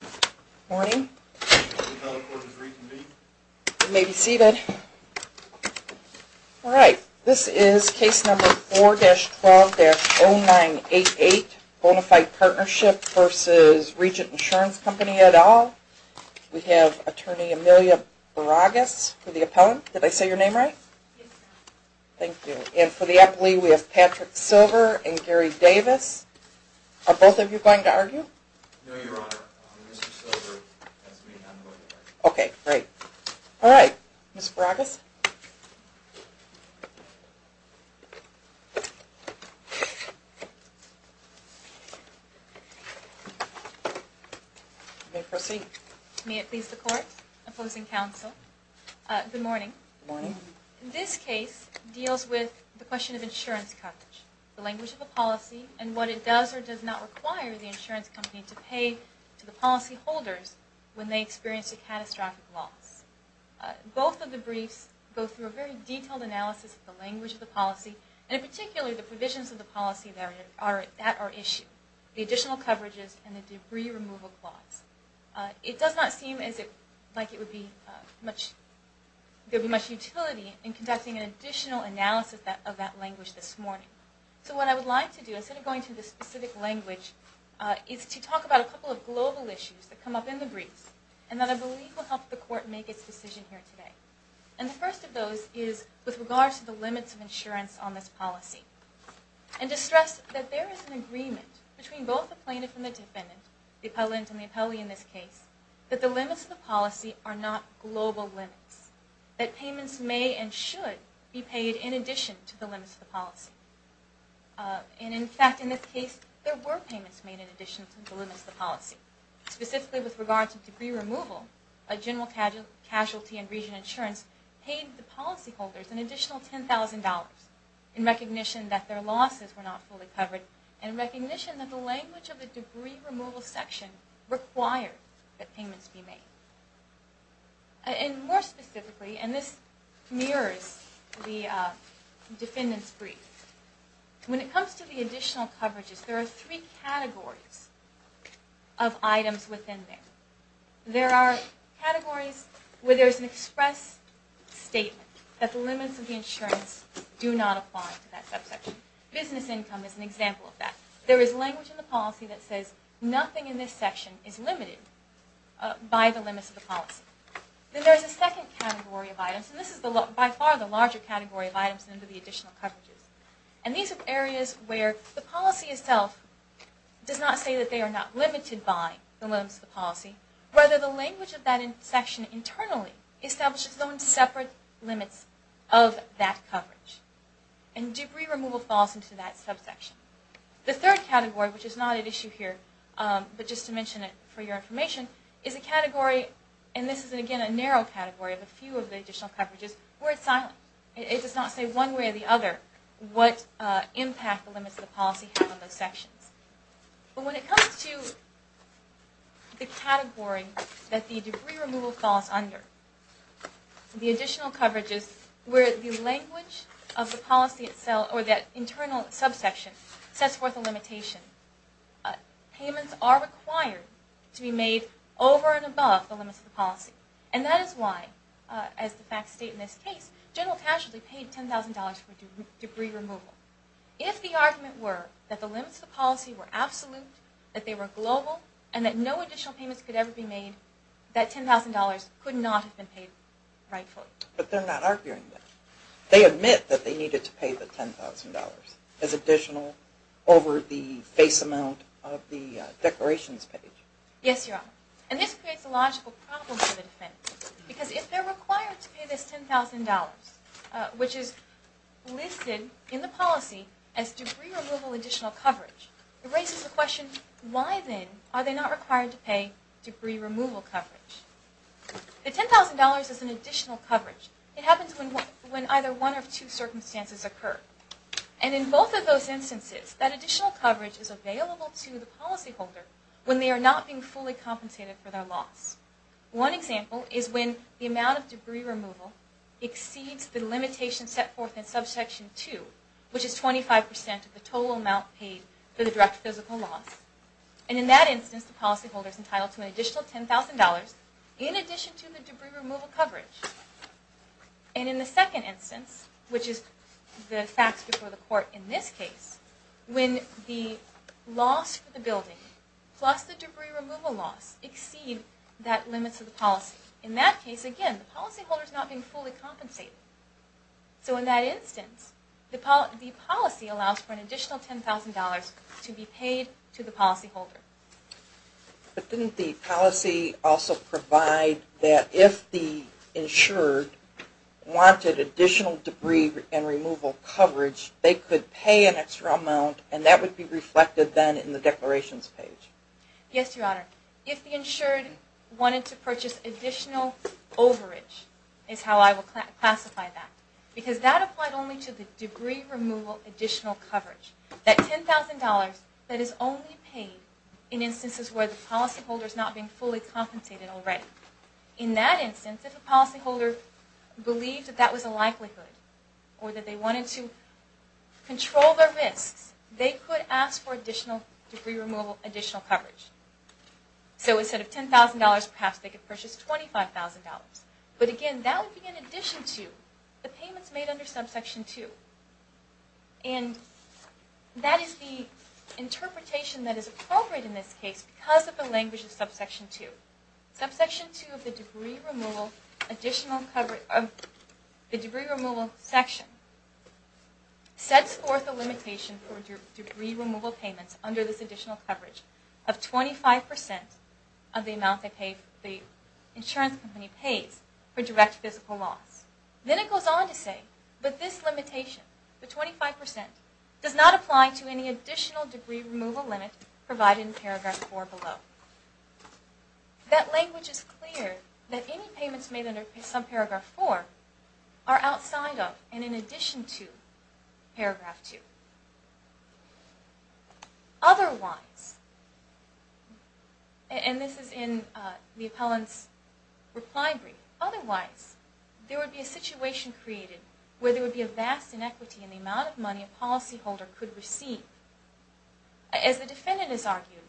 Good morning. You may be seated. All right. This is case number 4-12-0988, Bona Fide Partnership v. Regent Insurance Company et al. We have Attorney Amelia Baragas for the appellant. Did I say your name right? Yes, ma'am. Thank you. And for the appellee, we have Patrick Silver and Gary Davis. Are both of you going to argue? No, Your Honor. Mr. Silver has me on the record. Okay. Great. All right. Ms. Baragas. You may proceed. May it please the Court. Opposing counsel. Good morning. Good morning. This case deals with the question of insurance coverage, the language of the policy, and what it does or does not require the insurance company to pay to the policyholders when they experience a catastrophic loss. Both of the briefs go through a very detailed analysis of the language of the policy, and in particular, the provisions of the policy that are at issue, the additional coverages and the debris removal clause. It does not seem as if there would be much utility in conducting an additional analysis of that language this morning. So what I would like to do, instead of going through the specific language, is to talk about a couple of global issues that come up in the briefs, and that I believe will help the Court make its decision here today. And the first of those is with regard to the limits of insurance on this policy. And to stress that there is an agreement between both the plaintiff and the defendant, the appellant and the appellee in this case, that the limits of the policy are not global limits, that payments may and should be paid in addition to the limits of the policy. And in fact, in this case, there were payments made in addition to the limits of the policy. Specifically with regard to debris removal, a general casualty in region insurance paid the policyholders an additional $10,000 in recognition that their losses were not fully covered, and in recognition that the language of the debris removal section required that payments be made. And more specifically, and this mirrors the defendant's brief, when it comes to the additional coverages, there are three categories of items within there. There are categories where there is an express statement that the limits of the insurance do not apply to that subsection. Business income is an example of that. There is language in the policy that says nothing in this section is limited by the limits of the policy. Then there is a second category of items, and this is by far the larger category of items under the additional coverages. And these are areas where the policy itself does not say that they are not limited by the limits of the policy, whether the language of that section internally establishes its own separate limits of that coverage. And debris removal falls into that subsection. The third category, which is not at issue here, but just to mention it for your information, is a category, and this is again a narrow category of a few of the additional coverages, where it is silent. It does not say one way or the other what impact the limits of the policy have on those sections. But when it comes to the category that the debris removal falls under, the additional coverages where the language of the policy itself or that internal subsection sets forth a limitation. Payments are required to be made over and above the limits of the policy. And that is why, as the facts state in this case, General Casualty paid $10,000 for debris removal. If the argument were that the limits of the policy were absolute, that they were global, and that no additional payments could ever be made, that $10,000 could not have been paid rightfully. But they are not arguing that. They admit that they needed to pay the $10,000 as additional over the face amount of the declarations page. Yes, Your Honor. And this creates a logical problem for the defense. Because if they are required to pay this $10,000, which is listed in the policy as debris removal additional coverage, it raises the question, why then are they not required to pay debris removal coverage? The $10,000 is an additional coverage. It happens when either one of two circumstances occur. And in both of those instances, that additional coverage is available to the policyholder when they are not being fully compensated for their loss. One example is when the amount of debris removal exceeds the limitation set forth in Subsection 2, which is 25% of the total amount paid for the direct physical loss. And in that instance, the policyholder is entitled to an additional $10,000 in addition to the debris removal coverage. And in the second instance, which is the facts before the court in this case, when the loss for the building plus the debris removal loss exceed that limit to the policy. In that case, again, the policyholder is not being fully compensated. So in that instance, the policy allows for an additional $10,000 to be paid to the policyholder. But didn't the policy also provide that if the insured wanted additional debris and removal coverage, they could pay an extra amount and that would be reflected then in the declarations page? Yes, Your Honor. If the insured wanted to purchase additional overage is how I would classify that. Because that applied only to the debris removal additional coverage. That $10,000 that is only paid in instances where the policyholder is not being fully compensated already. In that instance, if the policyholder believed that that was a likelihood or that they wanted to control their risks, they could ask for additional debris removal additional coverage. So instead of $10,000, perhaps they could purchase $25,000. But again, that would be in addition to the payments made under subsection 2. And that is the interpretation that is appropriate in this case because of the language of subsection 2. Subsection 2 of the debris removal section sets forth a limitation for debris removal payments under this additional coverage of 25% of the amount the insurance company pays for direct physical loss. Then it goes on to say, but this limitation, the 25%, does not apply to any additional debris removal limit provided in paragraph 4 below. That language is clear that any payments made under subparagraph 4 are outside of and in addition to paragraph 2. Otherwise, and this is in the appellant's reply brief, otherwise there would be a situation created where there would be a vast inequity in the amount of money a policyholder could receive. As the defendant has argued,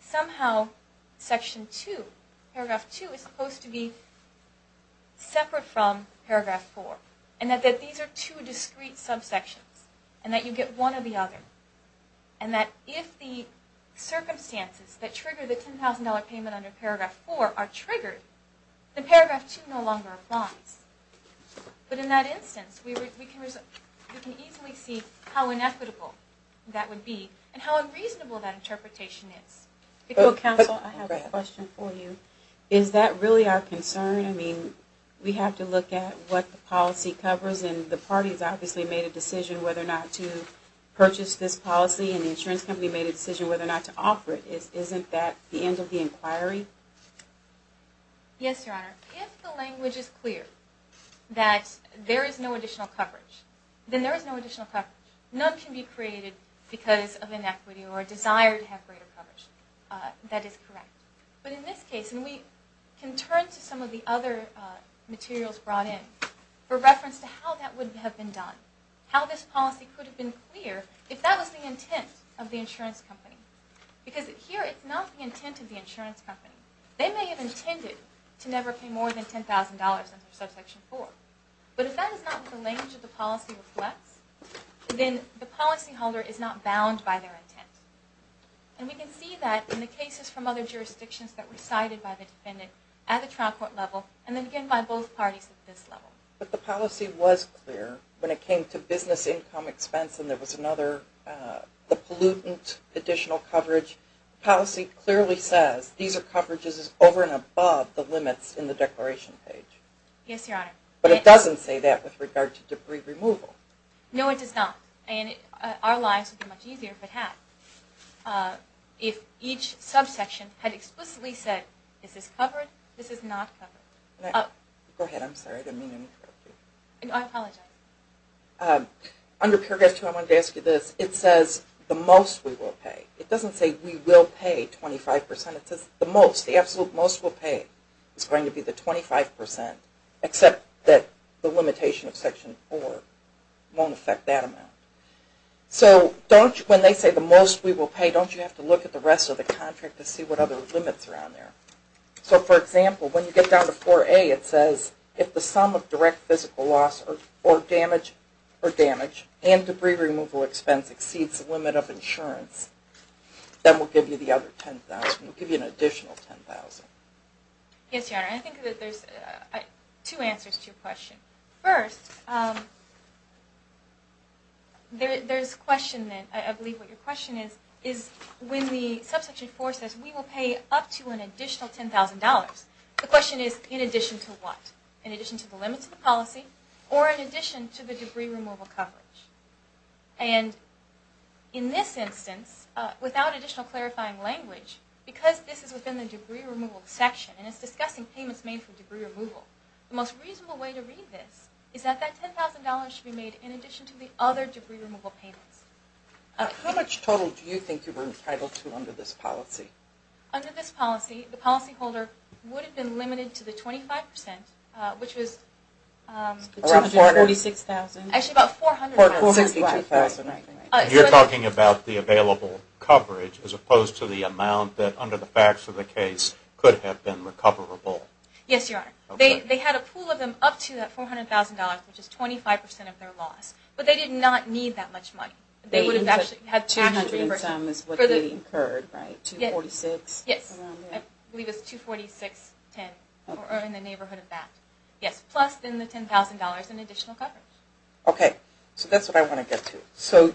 somehow section 2, paragraph 2, is supposed to be separate from paragraph 4. And that these are two discrete subsections. And that you get one or the other. And that if the circumstances that trigger the $10,000 payment under paragraph 4 are triggered, the paragraph 2 no longer applies. But in that instance, we can easily see how inequitable that would be and how unreasonable that interpretation is. Counsel, I have a question for you. Is that really our concern? I mean, we have to look at what the policy covers and the parties obviously made a decision whether or not to purchase this policy and the insurance company made a decision whether or not to offer it. Isn't that the end of the inquiry? Yes, Your Honor. If the language is clear that there is no additional coverage, then there is no additional coverage. None can be created because of inequity or a desire to have greater coverage. That is correct. But in this case, and we can turn to some of the other materials brought in for reference to how that would have been done. How this policy could have been clear if that was the intent of the insurance company. Because here it's not the intent of the insurance company. They may have intended to never pay more than $10,000 under subsection 4. But if that is not what the language of the policy reflects, then the policyholder is not bound by their intent. And we can see that in the cases from other jurisdictions that were cited by the defendant at the trial court level and then again by both parties at this level. But the policy was clear when it came to business income expense and there was another pollutant additional coverage. The policy clearly says these are coverages over and above the limits in the declaration page. Yes, Your Honor. But it doesn't say that with regard to debris removal. No, it does not. And our lives would be much easier if it had. If each subsection had explicitly said this is covered, this is not covered. Go ahead. I'm sorry. I didn't mean to interrupt you. I apologize. Under Paragraph 2, I wanted to ask you this. It says the most we will pay. It doesn't say we will pay 25%. It says the most, the absolute most we'll pay is going to be the 25%, except that the limitation of Section 4 won't affect that amount. So when they say the most we will pay, don't you have to look at the rest of the contract to see what other limits are on there? So, for example, when you get down to 4A, it says if the sum of direct physical loss or damage and debris removal expense exceeds the limit of insurance, then we'll give you the other $10,000. We'll give you an additional $10,000. Yes, Your Honor. I think that there's two answers to your question. First, there's a question that I believe what your question is, is when the subsection 4 says we will pay up to an additional $10,000, the question is in addition to what? In addition to the limits of the policy or in addition to the debris removal coverage? And in this instance, without additional clarifying language, because this is within the debris removal section and it's discussing payments made for debris removal, the most reasonable way to read this is that that $10,000 should be made in addition to the other debris removal payments. How much total do you think you were entitled to under this policy? Under this policy, the policyholder would have been limited to the 25%, which was... $246,000. Actually, about $400,000. $462,000. You're talking about the available coverage as opposed to the amount that, under the facts of the case, could have been recoverable. Yes, Your Honor. They had a pool of them up to that $400,000, which is 25% of their loss. But they did not need that much money. $200,000 is what they incurred, right? $246,000? Yes. I believe it was $246,000 in the neighborhood of that. Yes, plus then the $10,000 in additional coverage. Okay. So that's what I want to get to. So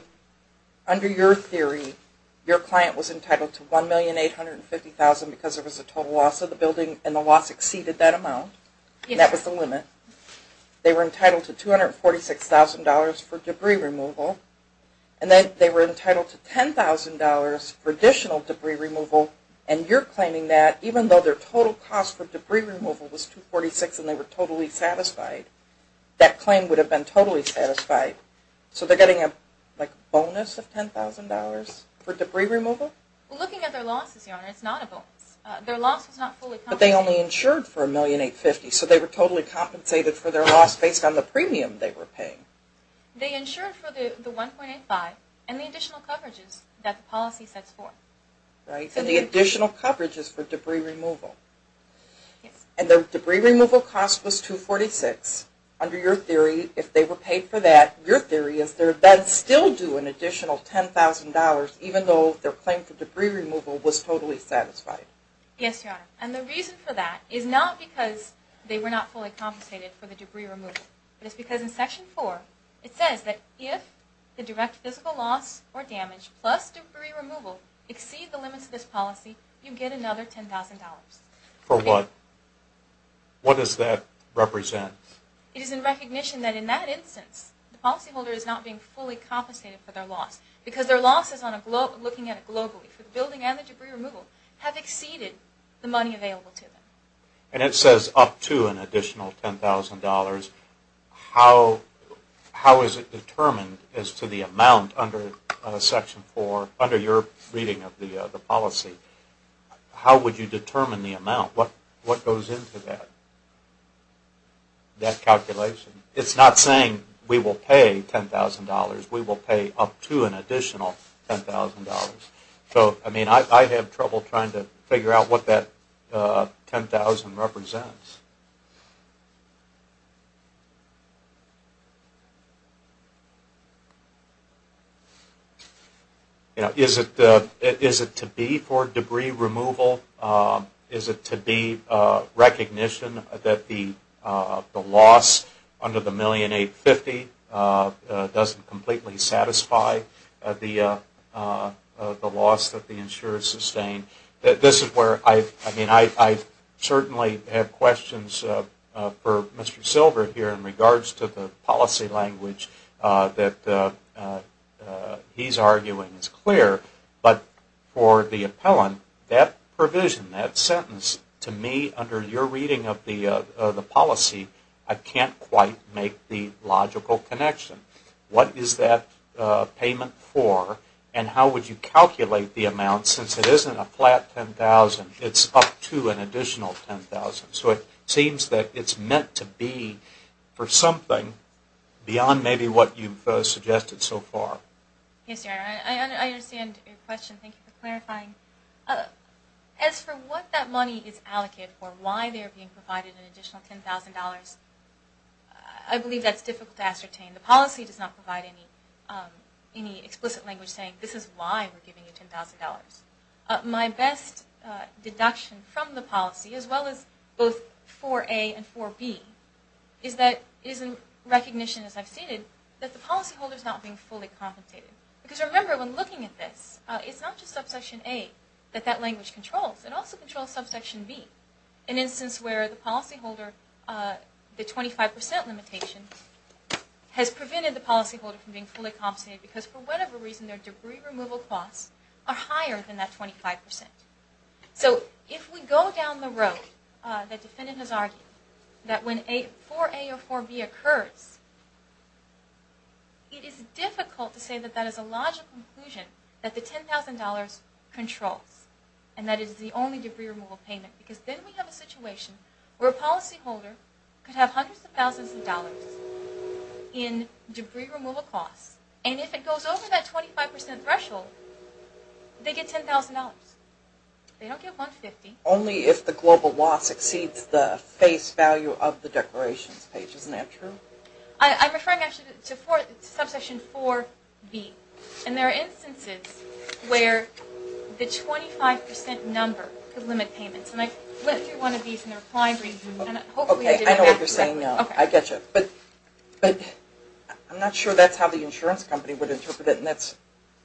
under your theory, your client was entitled to $1,850,000 because there was a total loss of the building and the loss exceeded that amount, and that was the limit. They were entitled to $246,000 for debris removal, and then they were entitled to $10,000 for additional debris removal, and you're claiming that even though their total cost for debris removal was $246,000 and they were totally satisfied, that claim would have been totally satisfied. So they're getting a bonus of $10,000 for debris removal? Looking at their losses, Your Honor, it's not a bonus. Their loss was not fully compensated. But they only insured for $1,850,000, so they were totally compensated for their loss based on the premium they were paying. They insured for the $1,850,000 and the additional coverages that the policy sets for. Right, and the additional coverages for debris removal. Yes. And their debris removal cost was $246,000. Under your theory, if they were paid for that, your theory is they're then still due an additional $10,000 even though their claim for debris removal was totally satisfied. Yes, Your Honor. And the reason for that is not because they were not fully compensated for the debris removal, but it's because in Section 4, it says that if the direct physical loss or damage plus debris removal exceed the limits of this policy, you get another $10,000. For what? What does that represent? It is in recognition that in that instance, the policyholder is not being fully compensated for their loss because their losses looking at it globally, for the building and the debris removal, have exceeded the money available to them. And it says up to an additional $10,000. How is it determined as to the amount under Section 4, under your reading of the policy? How would you determine the amount? What goes into that calculation? It's not saying we will pay $10,000. We will pay up to an additional $10,000. So, I mean, I have trouble trying to figure out what that $10,000 represents. Is it to be for debris removal? Is it to be recognition that the loss under the $1,850,000 doesn't completely satisfy the loss that the insurers sustained? This is where I certainly have questions for Mr. Silver here in regards to the policy language that he's arguing is clear. But for the appellant, that provision, that sentence, to me, under your reading of the policy, I can't quite make the logical connection. What is that payment for? And how would you calculate the amount since it isn't a flat $10,000? It's up to an additional $10,000. So it seems that it's meant to be for something beyond maybe what you've suggested so far. I understand your question. Thank you for clarifying. As for what that money is allocated for, why they're being provided an additional $10,000, I believe that's difficult to ascertain. The policy does not provide any explicit language saying this is why we're giving you $10,000. My best deduction from the policy, as well as both for A and for B, is in recognition, as I've stated, that the policyholder is not being fully compensated. Because remember, when looking at this, it's not just subsection A that that language controls. It also controls subsection B, an instance where the policyholder, the 25% limitation has prevented the policyholder from being fully compensated because for whatever reason their debris removal costs are higher than that 25%. So if we go down the road that the defendant has argued, that when 4A or 4B occurs, it is difficult to say that that is a logical conclusion that the $10,000 controls and that it is the only debris removal payment. Because then we have a situation where a policyholder could have hundreds of thousands of dollars in debris removal costs, and if it goes over that 25% threshold, they get $10,000. They don't get $150,000. Only if the global law exceeds the face value of the declarations page. Isn't that true? I'm referring, actually, to subsection 4B. And there are instances where the 25% number could limit payments. And I went through one of these in the reply briefing. Okay, I know what you're saying now. I get you. But I'm not sure that's how the insurance company would interpret it, and that's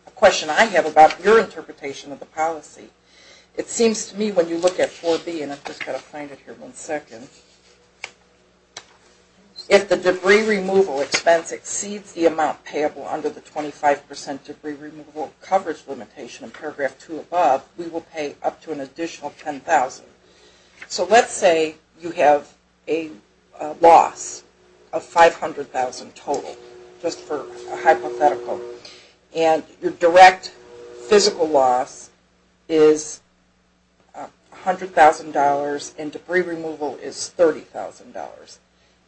a question I have about your interpretation of the policy. It seems to me when you look at 4B, and I've just got to find it here one second, if the debris removal expense exceeds the amount payable under the 25% debris removal coverage limitation in paragraph 2 above, we will pay up to an additional $10,000. So let's say you have a loss of $500,000 total, just for a hypothetical. And your direct physical loss is $100,000, and debris removal is $30,000.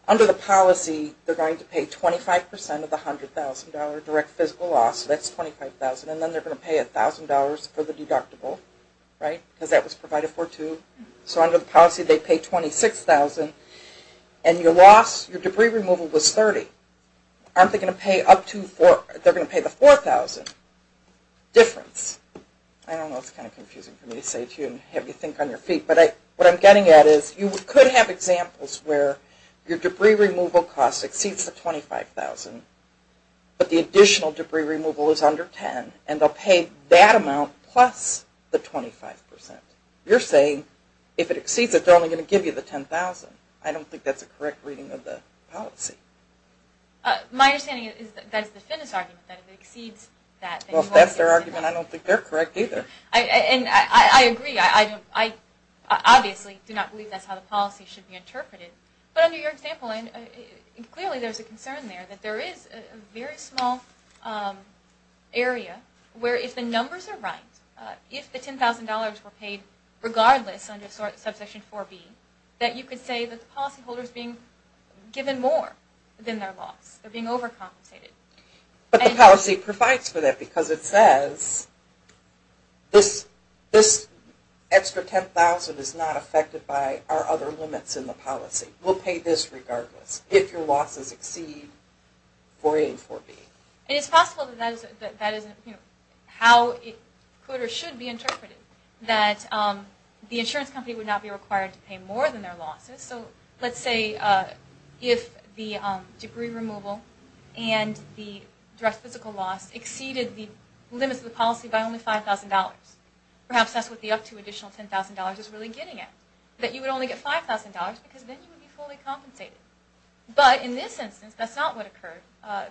Under the policy, they're going to pay 25% of the $100,000 direct physical loss, so that's $25,000, and then they're going to pay $1,000 for the deductible, right? Because that was provided for too. So under the policy, they pay $26,000, and your debris removal was $30,000. Aren't they going to pay the $4,000 difference? I don't know, it's kind of confusing for me to say to you and have you think on your feet, but what I'm getting at is you could have examples where your debris removal cost exceeds the $25,000, but the additional debris removal is under $10,000, and they'll pay that amount plus the 25%. You're saying if it exceeds it, they're only going to give you the $10,000. I don't think that's a correct reading of the policy. My understanding is that that's the Finnis argument, that if it exceeds that, then you won't get the $10,000. Well, if that's their argument, I don't think they're correct either. And I agree. I obviously do not believe that's how the policy should be interpreted. But under your example, clearly there's a concern there that there is a very small area where if the numbers are right, if the $10,000 were paid regardless under subsection 4B, that you could say that the policyholder is being given more than their loss. They're being overcompensated. But the policy provides for that because it says this extra $10,000 is not affected by our other limits in the policy. We'll pay this regardless if your losses exceed 4A and 4B. And it's possible that that is how it could or should be interpreted, that the insurance company would not be required to pay more than their losses. So let's say if the debris removal and the direct physical loss exceeded the limits of the policy by only $5,000, perhaps that's what the up to additional $10,000 is really getting at, that you would only get $5,000 because then you would be fully compensated. But in this instance, that's not what occurred.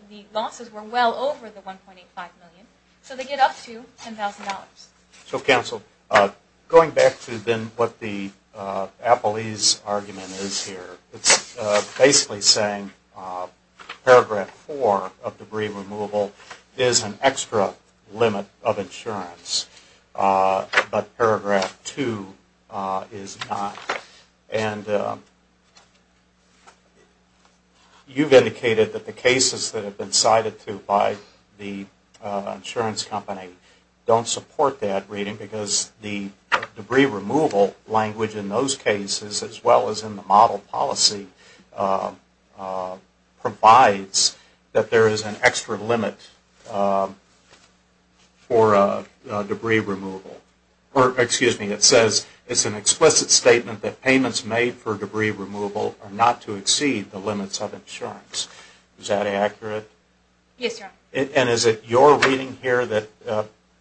The losses were well over the $1.85 million. So they get up to $10,000. So, Counsel, going back to then what the Appleese argument is here, it's basically saying paragraph 4 of debris removal is an extra limit of insurance, but paragraph 2 is not. And you've indicated that the cases that have been cited to by the insurance company don't support that reading because the debris removal language in those cases, as well as in the model policy, provides that there is an extra limit for debris removal. Or, excuse me, it says it's an explicit statement that payments made for debris removal are not to exceed the limits of insurance. Is that accurate? Yes, Your Honor. And is it your reading here that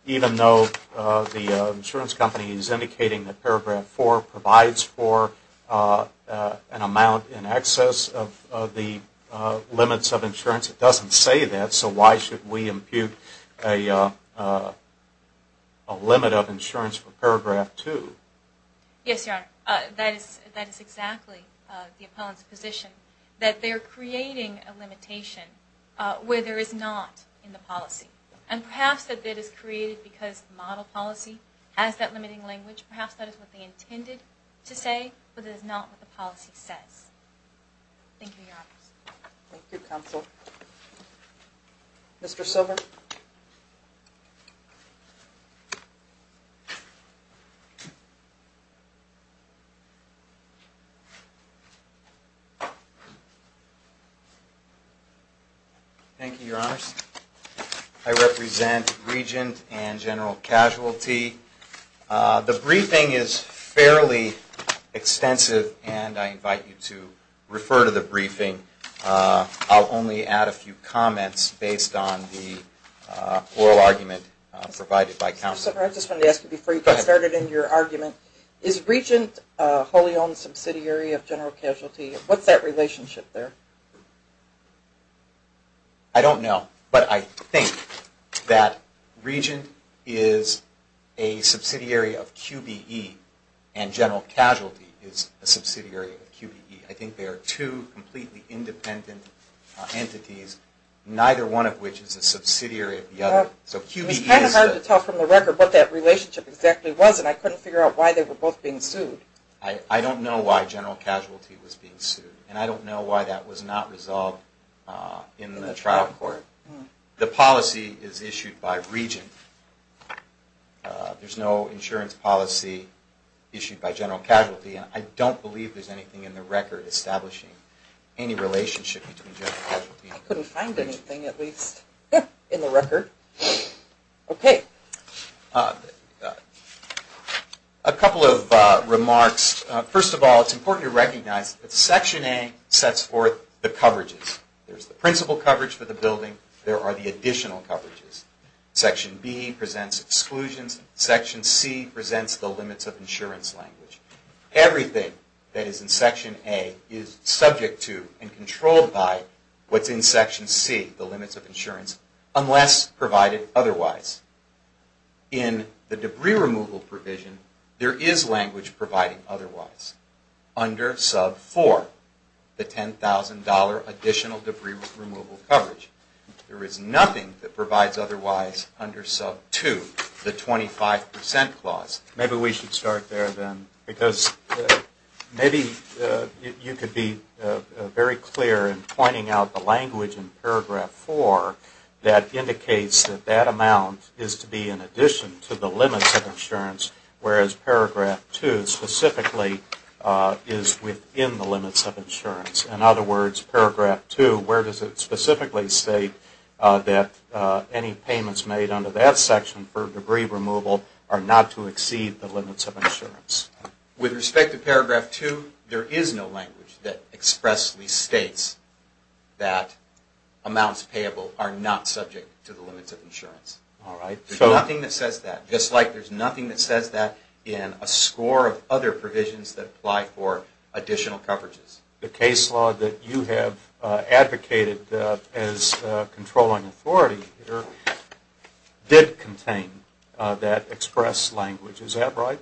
even though the insurance company is indicating that paragraph 4 provides for an amount in excess of the limits of insurance, it doesn't say that. So why should we impute a limit of insurance for paragraph 2? Yes, Your Honor. That is exactly the opponent's position, that they're creating a limitation where there is not in the policy. And perhaps that it is created because the model policy has that limiting language. Perhaps that is what they intended to say, but it is not what the policy says. Thank you, Your Honors. Thank you, Counsel. Mr. Silver? Thank you, Your Honors. I represent Regent and General Casualty. The briefing is fairly extensive, and I invite you to refer to the briefing. I'll only add a few comments based on the oral argument provided by Counsel. Mr. Silver, I just wanted to ask you before you get started in your argument, is Regent a wholly owned subsidiary of General Casualty? What's that relationship there? I don't know, but I think that Regent is a subsidiary of QBE, and General Casualty is a subsidiary of QBE. I think they are two completely independent entities, neither one of which is a subsidiary of the other. It was kind of hard to tell from the record what that relationship exactly was, and I couldn't figure out why they were both being sued. I don't know why General Casualty was being sued, and I don't know why that was not resolved in the trial court. The policy is issued by Regent. There's no insurance policy issued by General Casualty, and I don't believe there's anything in the record establishing any relationship between General Casualty and Regent. I couldn't find anything, at least in the record. Okay. A couple of remarks. First of all, it's important to recognize that Section A sets forth the coverages. There's the principal coverage for the building. There are the additional coverages. Section B presents exclusions. Section C presents the limits of insurance language. Everything that is in Section A is subject to and controlled by what's in Section C, the limits of insurance, unless provided otherwise. In the debris removal provision, there is language providing otherwise under Sub 4, the $10,000 additional debris removal coverage. There is nothing that provides otherwise under Sub 2, the 25% clause. Maybe we should start there, then, because maybe you could be very clear in pointing out the language in Paragraph 4 that indicates that that amount is to be in addition to the limits of insurance, whereas Paragraph 2 specifically is within the limits of insurance. In other words, Paragraph 2, where does it specifically state that any payments made under that section for debris removal are not to exceed the limits of insurance? With respect to Paragraph 2, there is no language that expressly states that amounts payable are not subject to the limits of insurance. There's nothing that says that, just like there's nothing that says that in a score of other provisions that apply for additional coverages. The case law that you have advocated as controlling authority here did contain that express language. Is that right?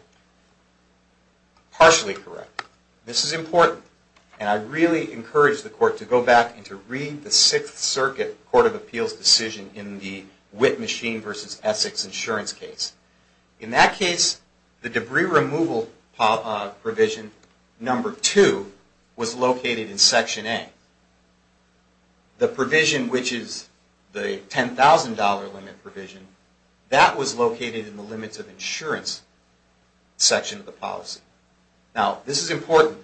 Partially correct. This is important, and I really encourage the Court to go back and to read the Sixth Circuit Court of Appeals decision in the Witt Machine v. Essex insurance case. In that case, the debris removal provision number 2 was located in Section A. The provision which is the $10,000 limit provision, that was located in the limits of insurance section of the policy. Now, this is important.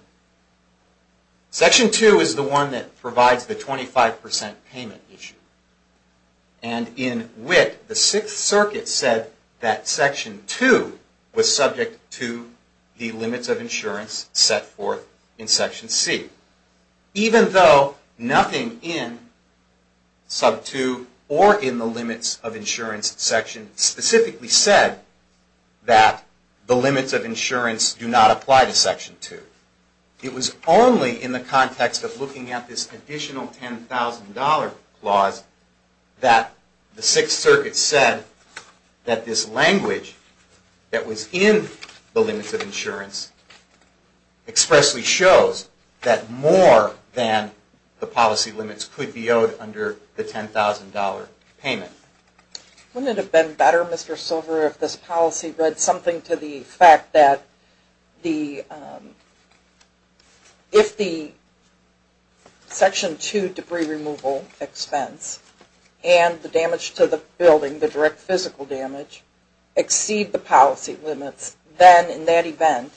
Section 2 is the one that provides the 25% payment issue. And in Witt, the Sixth Circuit said that Section 2 was subject to the limits of insurance set forth in Section C. Even though nothing in Sub 2 or in the limits of insurance section specifically said that the limits of insurance do not apply to Section 2. It was only in the context of looking at this additional $10,000 clause that the Sixth Circuit said that this language that was in the limits of insurance expressly shows that more than the policy limits could be owed under the $10,000 payment. Wouldn't it have been better, Mr. Silver, if this policy read something to the fact that if the Section 2 debris removal expense and the damage to the building, the direct physical damage, exceed the policy limits, then in that event,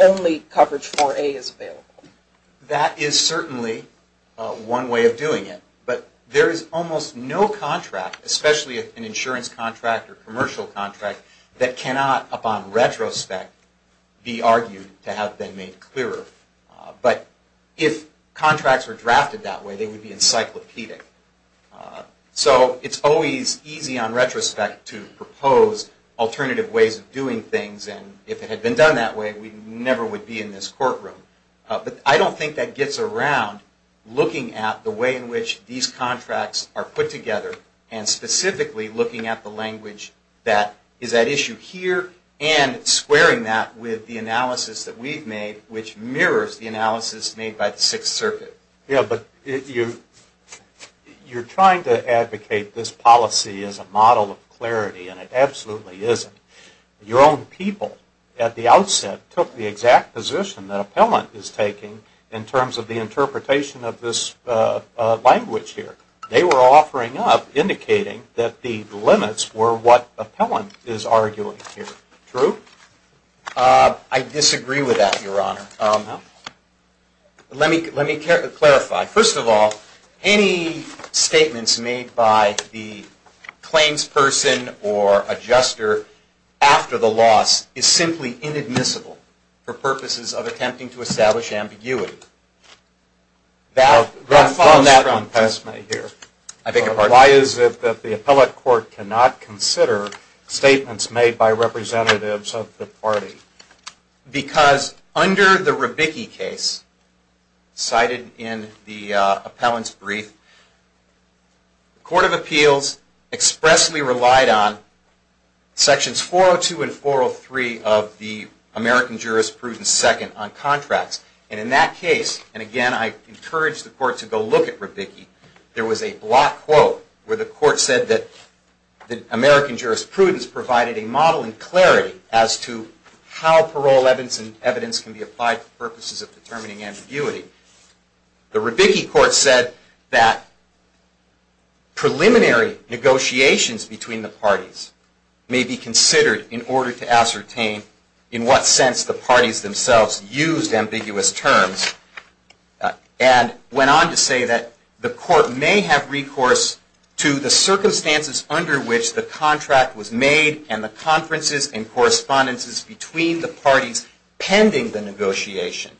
only coverage 4A is available? That is certainly one way of doing it. But there is almost no contract, especially an insurance contract or commercial contract, that cannot upon retrospect be argued to have been made clearer. But if contracts were drafted that way, they would be encyclopedic. So it is always easy on retrospect to propose alternative ways of doing things. If it had been done that way, we never would be in this courtroom. But I don't think that gets around looking at the way in which these contracts are put together and specifically looking at the language that is at issue here and squaring that with the analysis that we have made, which mirrors the analysis made by the Sixth Circuit. Yeah, but you're trying to advocate this policy as a model of clarity, and it absolutely isn't. Your own people at the outset took the exact position that Appellant is taking in terms of the interpretation of this language here. They were offering up, indicating that the limits were what Appellant is arguing here. True? I disagree with that, Your Honor. Let me clarify. First of all, any statements made by the claims person or adjuster after the loss is simply inadmissible for purposes of attempting to establish ambiguity. Why is it that the appellate court cannot consider statements made by representatives of the party? Because under the Rebicki case, cited in the Appellant's brief, the Court of Appeals expressly relied on Sections 402 and 403 of the American Jurisprudence Second on contracts. And in that case, and again I encourage the Court to go look at Rebicki, there was a block quote where the Court said that the American Jurisprudence provided a model and clarity as to how parole evidence can be applied for purposes of determining ambiguity. The Rebicki court said that preliminary negotiations between the parties may be considered in order to ascertain in what sense the parties themselves used ambiguous terms. And went on to say that the court may have recourse to the circumstances under which the contract was made and the conferences and correspondences between the parties pending the negotiation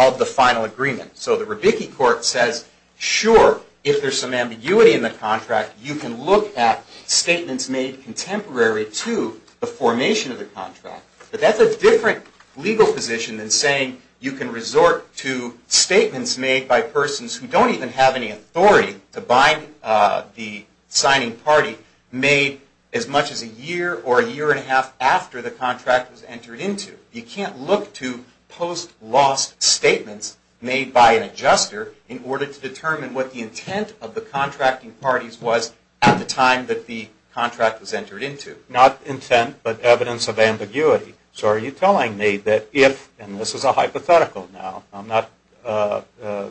of the final agreement. So the Rebicki court says, sure, if there's some ambiguity in the contract, you can look at statements made contemporary to the formation of the contract. But that's a different legal position than saying you can resort to statements made by persons who don't even have any authority to bind the signing party made as much as a year or a year and a half after the contract was entered into. You can't look to post-loss statements made by an adjuster in order to determine what the intent of the contracting parties was at the time that the contract was entered into. Not intent, but evidence of ambiguity. So are you telling me that if, and this is a hypothetical now, I'm not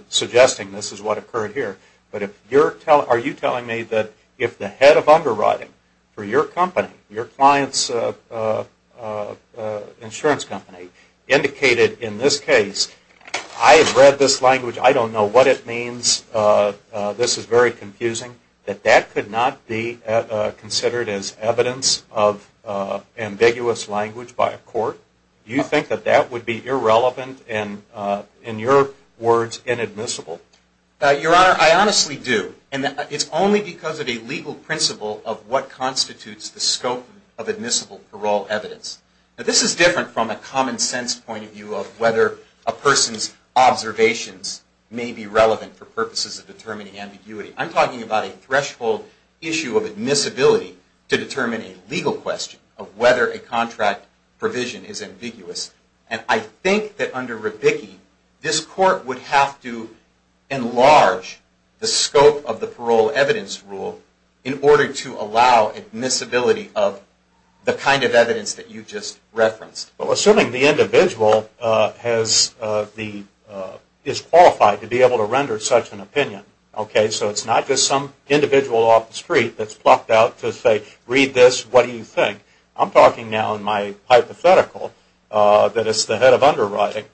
suggesting this is what occurred here, but are you telling me that if the head of underwriting for your company, your client's insurance company, indicated in this case, I have read this language, I don't know what it means, this is very confusing, that that could not be considered as evidence of ambiguous language by a court? Do you think that that would be irrelevant and, in your words, inadmissible? Your Honor, I honestly do. And it's only because of a legal principle of what constitutes the scope of admissible parole evidence. This is different from a common sense point of view of whether a person's observations may be relevant for purposes of determining ambiguity. I'm talking about a threshold issue of admissibility to determine a legal question of whether a contract provision is ambiguous. And I think that under Rebicki, this court would have to enlarge the scope of the parole evidence rule in order to allow admissibility of the kind of evidence that you just referenced. Well, assuming the individual is qualified to be able to render such an opinion, okay, so it's not just some individual off the street that's plucked out to say, read this, what do you think? I'm talking now in my hypothetical that it's the head of underwriting.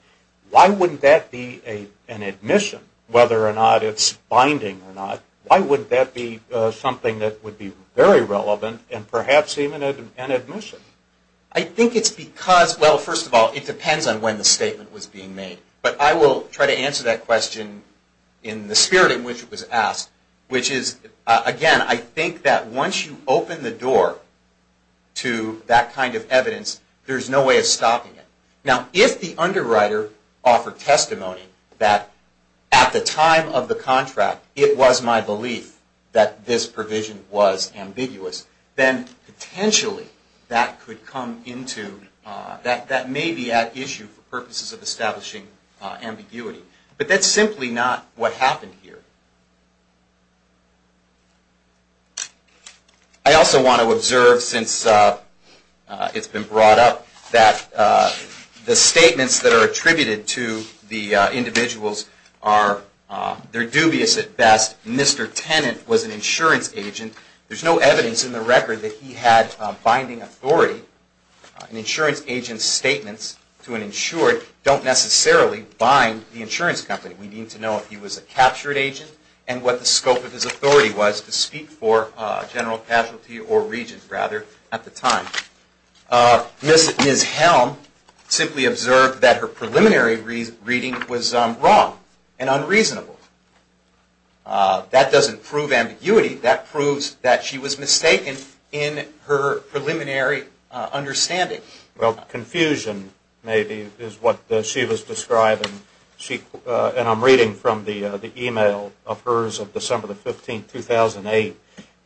Why wouldn't that be an admission, whether or not it's binding or not? Why wouldn't that be something that would be very relevant and perhaps even an admission? I think it's because, well, first of all, it depends on when the statement was being made. But I will try to answer that question in the spirit in which it was asked, which is, again, I think that once you open the door to that kind of evidence, there's no way of stopping it. Now, if the underwriter offered testimony that at the time of the contract, it was my belief that this provision was ambiguous, then potentially that may be at issue for purposes of establishing ambiguity. But that's simply not what happened here. I also want to observe, since it's been brought up, that the statements that are attributed to the individuals, they're dubious at best. Mr. Tennant was an insurance agent. There's no evidence in the record that he had binding authority. An insurance agent's statements to an insured don't necessarily bind the insurance company. We need to know if he was a captured agent and what the scope of his authority was to speak for general casualty or regent, rather, at the time. Ms. Helm simply observed that her preliminary reading was wrong and unreasonable. That doesn't prove ambiguity. That proves that she was mistaken in her preliminary understanding. Well, confusion, maybe, is what she was describing, and I'm reading from the e-mail of hers of December 15, 2008,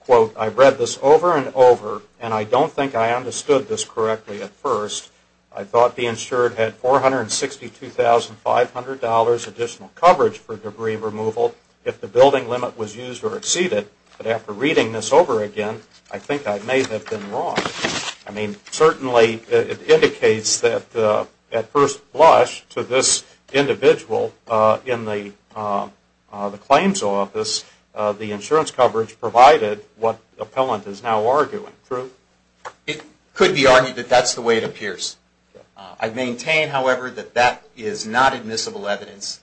quote, I've read this over and over, and I don't think I understood this correctly at first. I thought the insured had $462,500 additional coverage for debris removal if the building limit was used or exceeded, but after reading this over again, I think I may have been wrong. I mean, certainly it indicates that at first blush to this individual in the claims office, the insurance coverage provided what the appellant is now arguing, true? It could be argued that that's the way it appears. I maintain, however, that that is not admissible evidence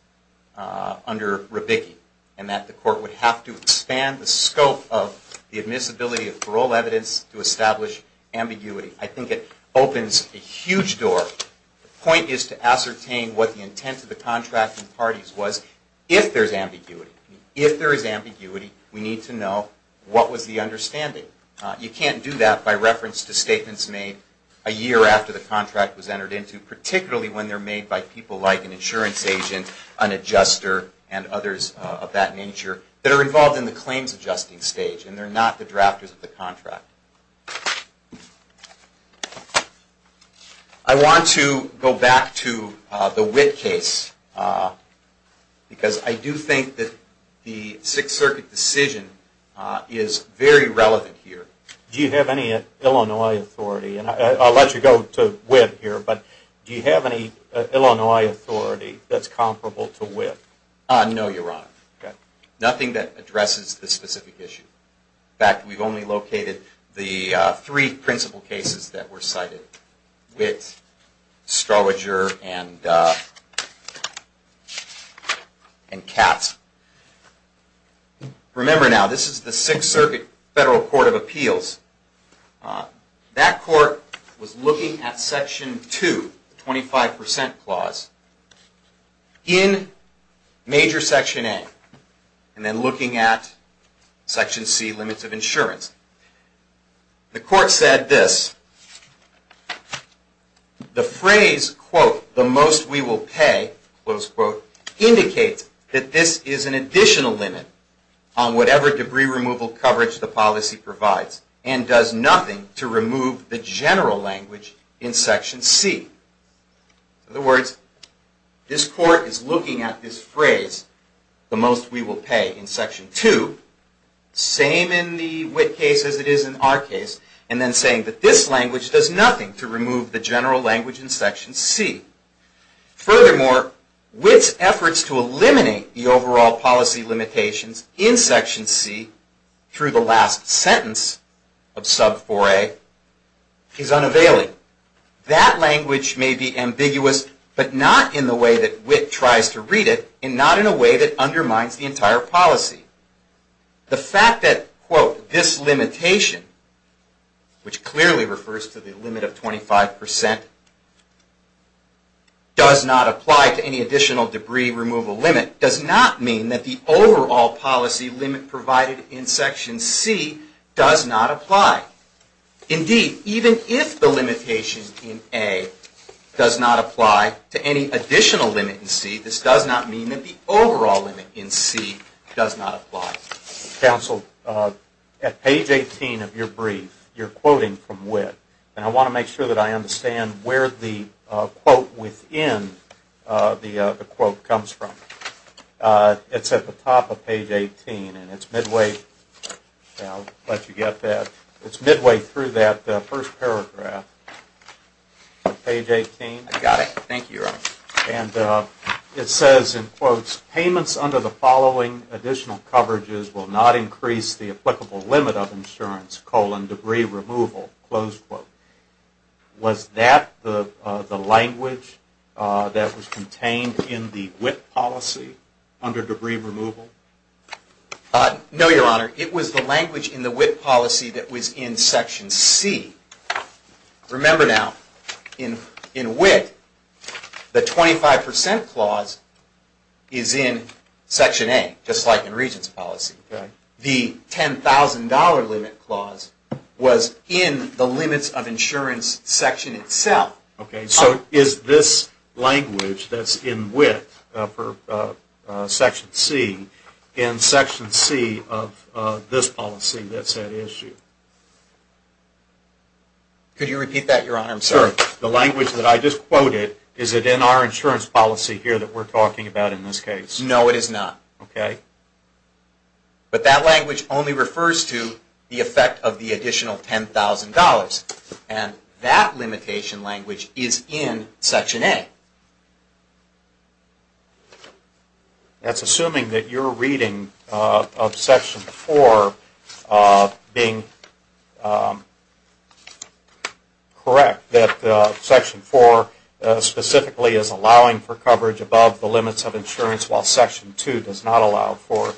under Rabicki and that the court would have to expand the scope of the admissibility of parole evidence to establish ambiguity. I think it opens a huge door. The point is to ascertain what the intent of the contracting parties was if there's ambiguity. If there is ambiguity, we need to know what was the understanding. You can't do that by reference to statements made a year after the contract was entered into, particularly when they're made by people like an insurance agent, an adjuster, and others of that nature that are involved in the claims adjusting stage and they're not the drafters of the contract. I want to go back to the Witt case because I do think that the Sixth Circuit decision is very relevant here. Do you have any Illinois authority? I'll let you go to Witt here, but do you have any Illinois authority that's comparable to Witt? No, Your Honor. Nothing that addresses this specific issue. In fact, we've only located the three principal cases that were cited, Witt, Strowager, and Katz. Remember now, this is the Sixth Circuit Federal Court of Appeals. That court was looking at Section 2, the 25% clause, in Major Section A and then looking at Section C, Limits of Insurance. The court said this, The phrase, quote, the most we will pay, close quote, indicates that this is an additional limit on whatever debris removal coverage the policy provides and does nothing to remove the general language in Section C. In other words, this court is looking at this phrase, the most we will pay in Section 2, same in the Witt case as it is in our case, and then saying that this language does nothing to remove the general language in Section C. Furthermore, Witt's efforts to eliminate the overall policy limitations in Section C through the last sentence of Sub 4a is unavailing. That language may be ambiguous, but not in the way that Witt tries to read it and not in a way that undermines the entire policy. The fact that, quote, this limitation, which clearly refers to the limit of 25%, does not apply to any additional debris removal limit, does not mean that the overall policy limit provided in Section C does not apply. Indeed, even if the limitation in A does not apply to any additional limit in C, this does not mean that the overall limit in C does not apply. Counsel, at page 18 of your brief, you're quoting from Witt, and I want to make sure that I understand where the quote within the quote comes from. It's at the top of page 18, and it's midway through that first paragraph. Page 18. I got it. Thank you, Your Honor. And it says, in quotes, Payments under the following additional coverages will not increase the applicable limit of insurance, colon, debris removal, close quote. Was that the language that was contained in the Witt policy under debris removal? No, Your Honor. It was the language in the Witt policy that was in Section C. Remember now, in Witt, the 25% clause is in Section A, just like in Regents' policy. The $10,000 limit clause was in the limits of insurance section itself. Okay, so is this language that's in Witt for Section C in Section C of this policy that's at issue? Could you repeat that, Your Honor? I'm sorry. The language that I just quoted, is it in our insurance policy here that we're talking about in this case? No, it is not. Okay. But that language only refers to the effect of the additional $10,000. And that limitation language is in Section A. That's assuming that you're reading of Section 4 being correct, that Section 4 specifically is allowing for coverage above the limits of insurance, while Section 2 does not allow for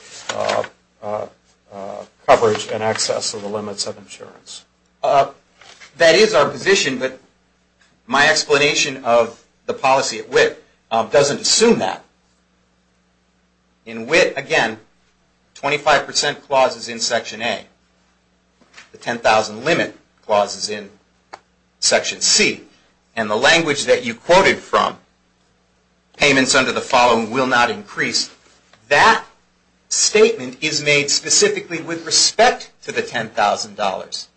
coverage in excess of the limits of insurance. That is our position, but my explanation of the policy at Witt doesn't assume that. In Witt, again, 25% clause is in Section A. The $10,000 limit clause is in Section C. And the language that you quoted from, payments under the following will not increase, that statement is made specifically with respect to the $10,000.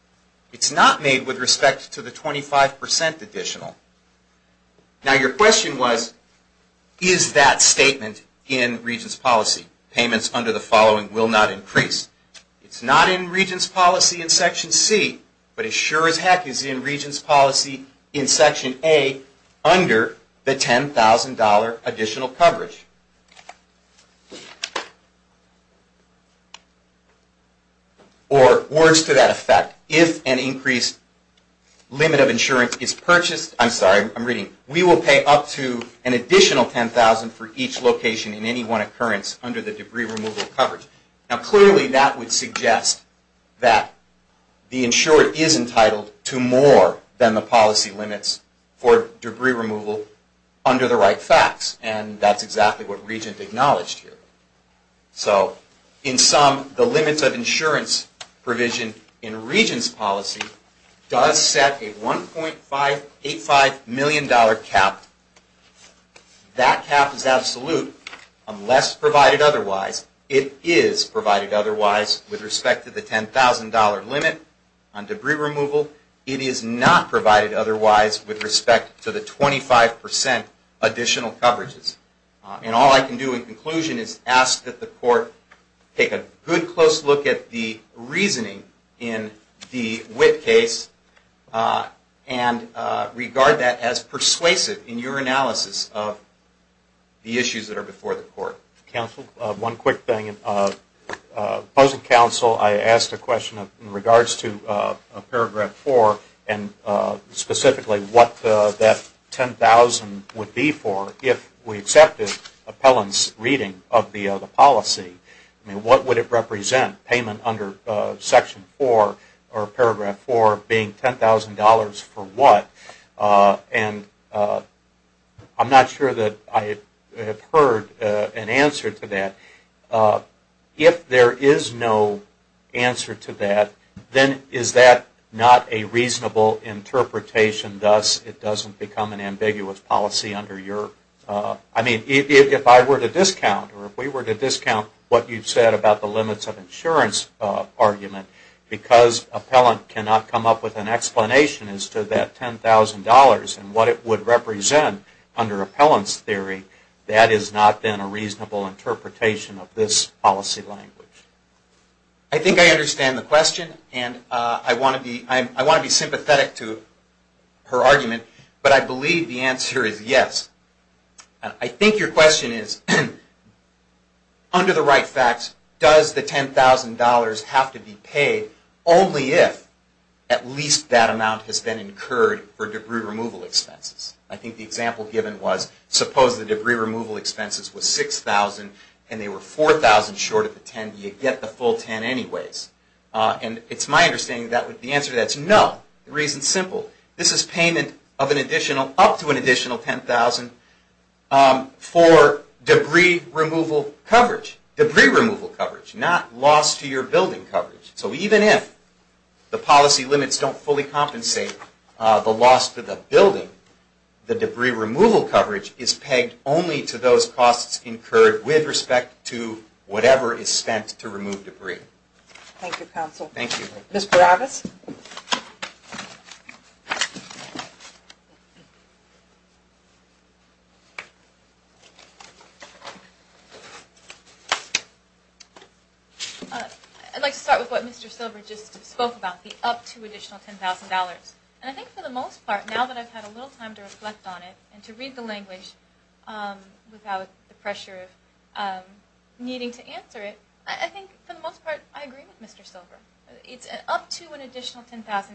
It's not made with respect to the 25% additional. Now, your question was, is that statement in Regents' policy? Payments under the following will not increase. It's not in Regents' policy in Section C, but it sure as heck is in Regents' policy in Section A, under the $10,000 additional coverage. Or words to that effect, if an increased limit of insurance is purchased, I'm sorry, I'm reading, we will pay up to an additional $10,000 for each location in any one occurrence under the debris removal coverage. Now, clearly that would suggest that the insurer is entitled to more than the policy limits for debris removal under the right facts, and that's exactly what Regents acknowledged here. So, in sum, the limits of insurance provision in Regents' policy does set a $1.85 million cap. That cap is absolute, unless provided otherwise. It is provided otherwise with respect to the $10,000 limit on debris removal. It is not provided otherwise with respect to the 25% additional coverages. And all I can do in conclusion is ask that the Court take a good, close look at the reasoning in the WIT case and regard that as persuasive in your analysis of the issues that are before the Court. One quick thing. Opposing counsel, I asked a question in regards to Paragraph 4, and specifically what that $10,000 would be for if we accepted Appellant's reading of the policy. What would it represent, payment under Section 4 or Paragraph 4 being $10,000 for what? And I'm not sure that I have heard an answer to that. If there is no answer to that, then is that not a reasonable interpretation, thus it doesn't become an ambiguous policy under your... I mean, if I were to discount or if we were to discount what you've said about the limits of insurance argument, because Appellant cannot come up with an explanation as to that $10,000 and what it would represent under Appellant's theory, that is not then a reasonable interpretation of this policy language. I think I understand the question, and I want to be sympathetic to her argument, but I believe the answer is yes. I think your question is, under the right facts, does the $10,000 have to be paid only if at least that amount has been incurred for debris removal expenses? I think the example given was, suppose the debris removal expenses were $6,000 and they were $4,000 short of the $10,000. Do you get the full $10,000 anyways? And it's my understanding that the answer to that is no. The reason is simple. This is payment up to an additional $10,000 for debris removal coverage. Debris removal coverage, not loss to your building coverage. So even if the policy limits don't fully compensate the loss to the building, the debris removal coverage is pegged only to those costs incurred with respect to whatever is spent to remove debris. Thank you, Counsel. Thank you. Ms. Barabas? I'd like to start with what Mr. Silver just spoke about, the up to additional $10,000. And I think for the most part, now that I've had a little time to reflect on it and to read the language without the pressure of needing to answer it, I think for the most part, I agree with Mr. Silver. It's up to an additional $10,000.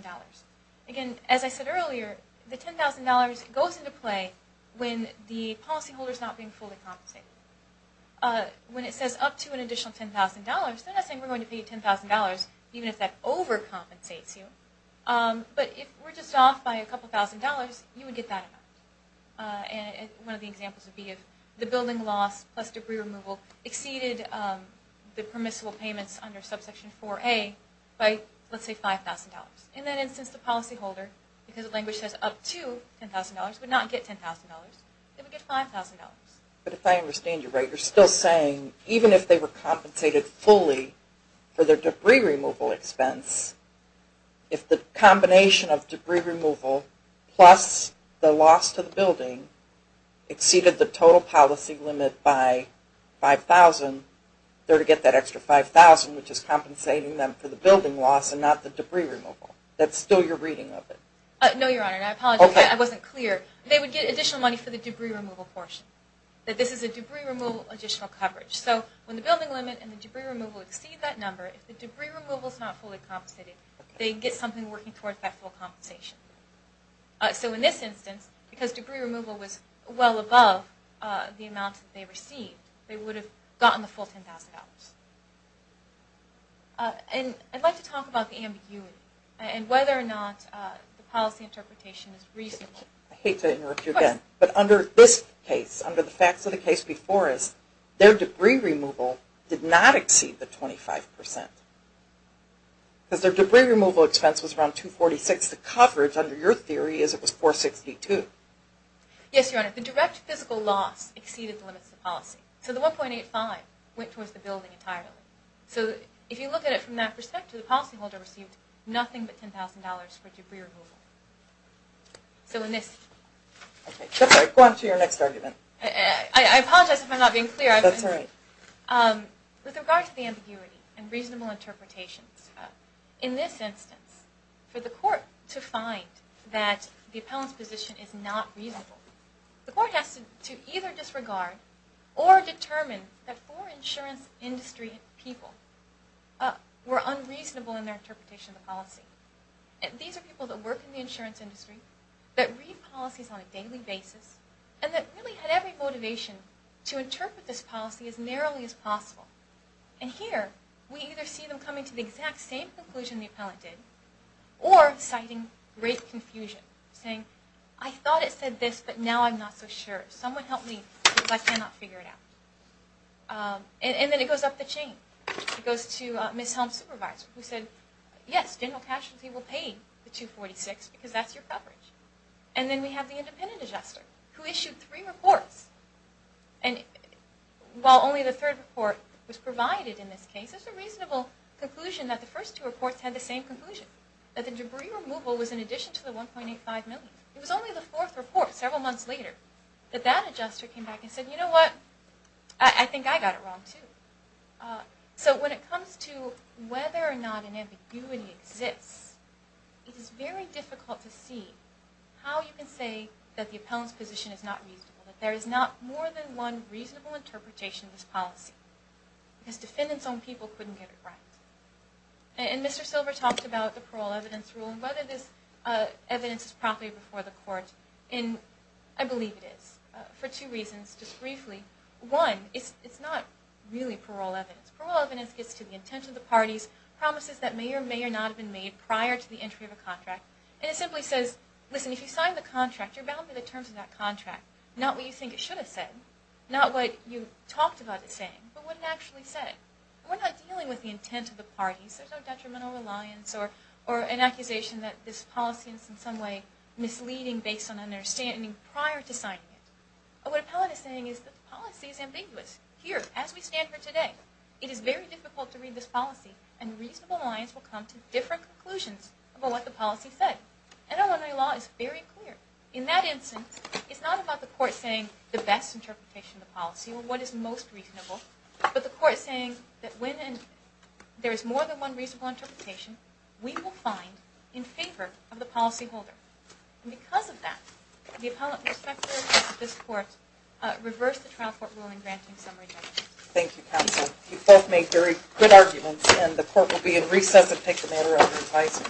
Again, as I said earlier, the $10,000 goes into play when the policy holder is not being fully compensated. When it says up to an additional $10,000, they're not saying we're going to pay you $10,000, even if that overcompensates you. But if we're just off by a couple thousand dollars, you would get that amount. One of the examples would be if the building loss plus debris removal exceeded the permissible payments under subsection 4A by, let's say, $5,000. In that instance, the policy holder, because the language says up to $10,000, would not get $10,000. They would get $5,000. But if I understand you right, you're still saying even if they were compensated fully for their debris removal expense, if the combination of debris removal plus the loss to the building exceeded the total policy limit by $5,000, they would get that extra $5,000, which is compensating them for the building loss and not the debris removal. That's still your reading of it. No, Your Honor. I apologize. I wasn't clear. They would get additional money for the debris removal portion. This is a debris removal additional coverage. So when the building limit and the debris removal exceed that number, if the debris removal is not fully compensated, they get something working towards that full compensation. So in this instance, because debris removal was well above the amount that they received, they would have gotten the full $10,000. I'd like to talk about the ambiguity and whether or not the policy interpretation is reasonable. I hate to interrupt you again. But under this case, under the facts of the case before us, their debris removal did not exceed the 25%. Because their debris removal expense was around $246,000. The coverage under your theory is it was $462,000. Yes, Your Honor. The direct physical loss exceeded the limits of the policy. So the $1.85 went towards the building entirely. So if you look at it from that perspective, the policyholder received nothing but $10,000 for debris removal. So in this... Go on to your next argument. I apologize if I'm not being clear. That's all right. With regard to the ambiguity and reasonable interpretations, in this instance, for the court to find that the appellant's position is not reasonable, the court has to either disregard or determine that four insurance industry people were unreasonable in their interpretation of the policy. These are people that work in the insurance industry, that read policies on a daily basis, and that really had every motivation to interpret this policy as narrowly as possible. And here, we either see them coming to the exact same conclusion the appellant did, or citing great confusion, saying, I thought it said this, but now I'm not so sure. Someone help me because I cannot figure it out. And then it goes up the chain. It goes to Ms. Helms' supervisor, who said, Yes, General Cashelty will pay the $246,000 because that's your coverage. And then we have the independent adjuster, who issued three reports. And while only the third report was provided in this case, it's a reasonable conclusion that the first two reports had the same conclusion, that the debris removal was in addition to the $1.85 million. It was only the fourth report, several months later, that that adjuster came back and said, You know what? I think I got it wrong, too. So when it comes to whether or not an ambiguity exists, it is very difficult to see how you can say that the appellant's position is not reasonable, that there is not more than one reasonable interpretation of this policy, because defendants on people couldn't get it right. And Mr. Silver talked about the parole evidence rule, and whether this evidence is properly before the court. And I believe it is, for two reasons, just briefly. One, it's not really parole evidence. Parole evidence gets to the intent of the parties, promises that may or may not have been made prior to the entry of a contract. And it simply says, Listen, if you sign the contract, you're bound by the terms of that contract, not what you think it should have said, not what you talked about it saying, but what it actually said. We're not dealing with the intent of the parties. There's no detrimental reliance or an accusation that this policy is in some way misleading based on understanding prior to signing it. What an appellant is saying is that the policy is ambiguous. Here, as we stand here today, it is very difficult to read this policy, and reasonable lines will come to different conclusions about what the policy said. NLMA law is very clear. In that instance, it's not about the court saying the best interpretation of the policy, or what is most reasonable, but the court saying that when there is more than one reasonable interpretation, we will find in favor of the policyholder. And because of that, the appellant will structure this court, reverse the trial court rule in granting summary judgment. Thank you, counsel. You both made very good arguments, and the court will be in recess to take the matter under revising.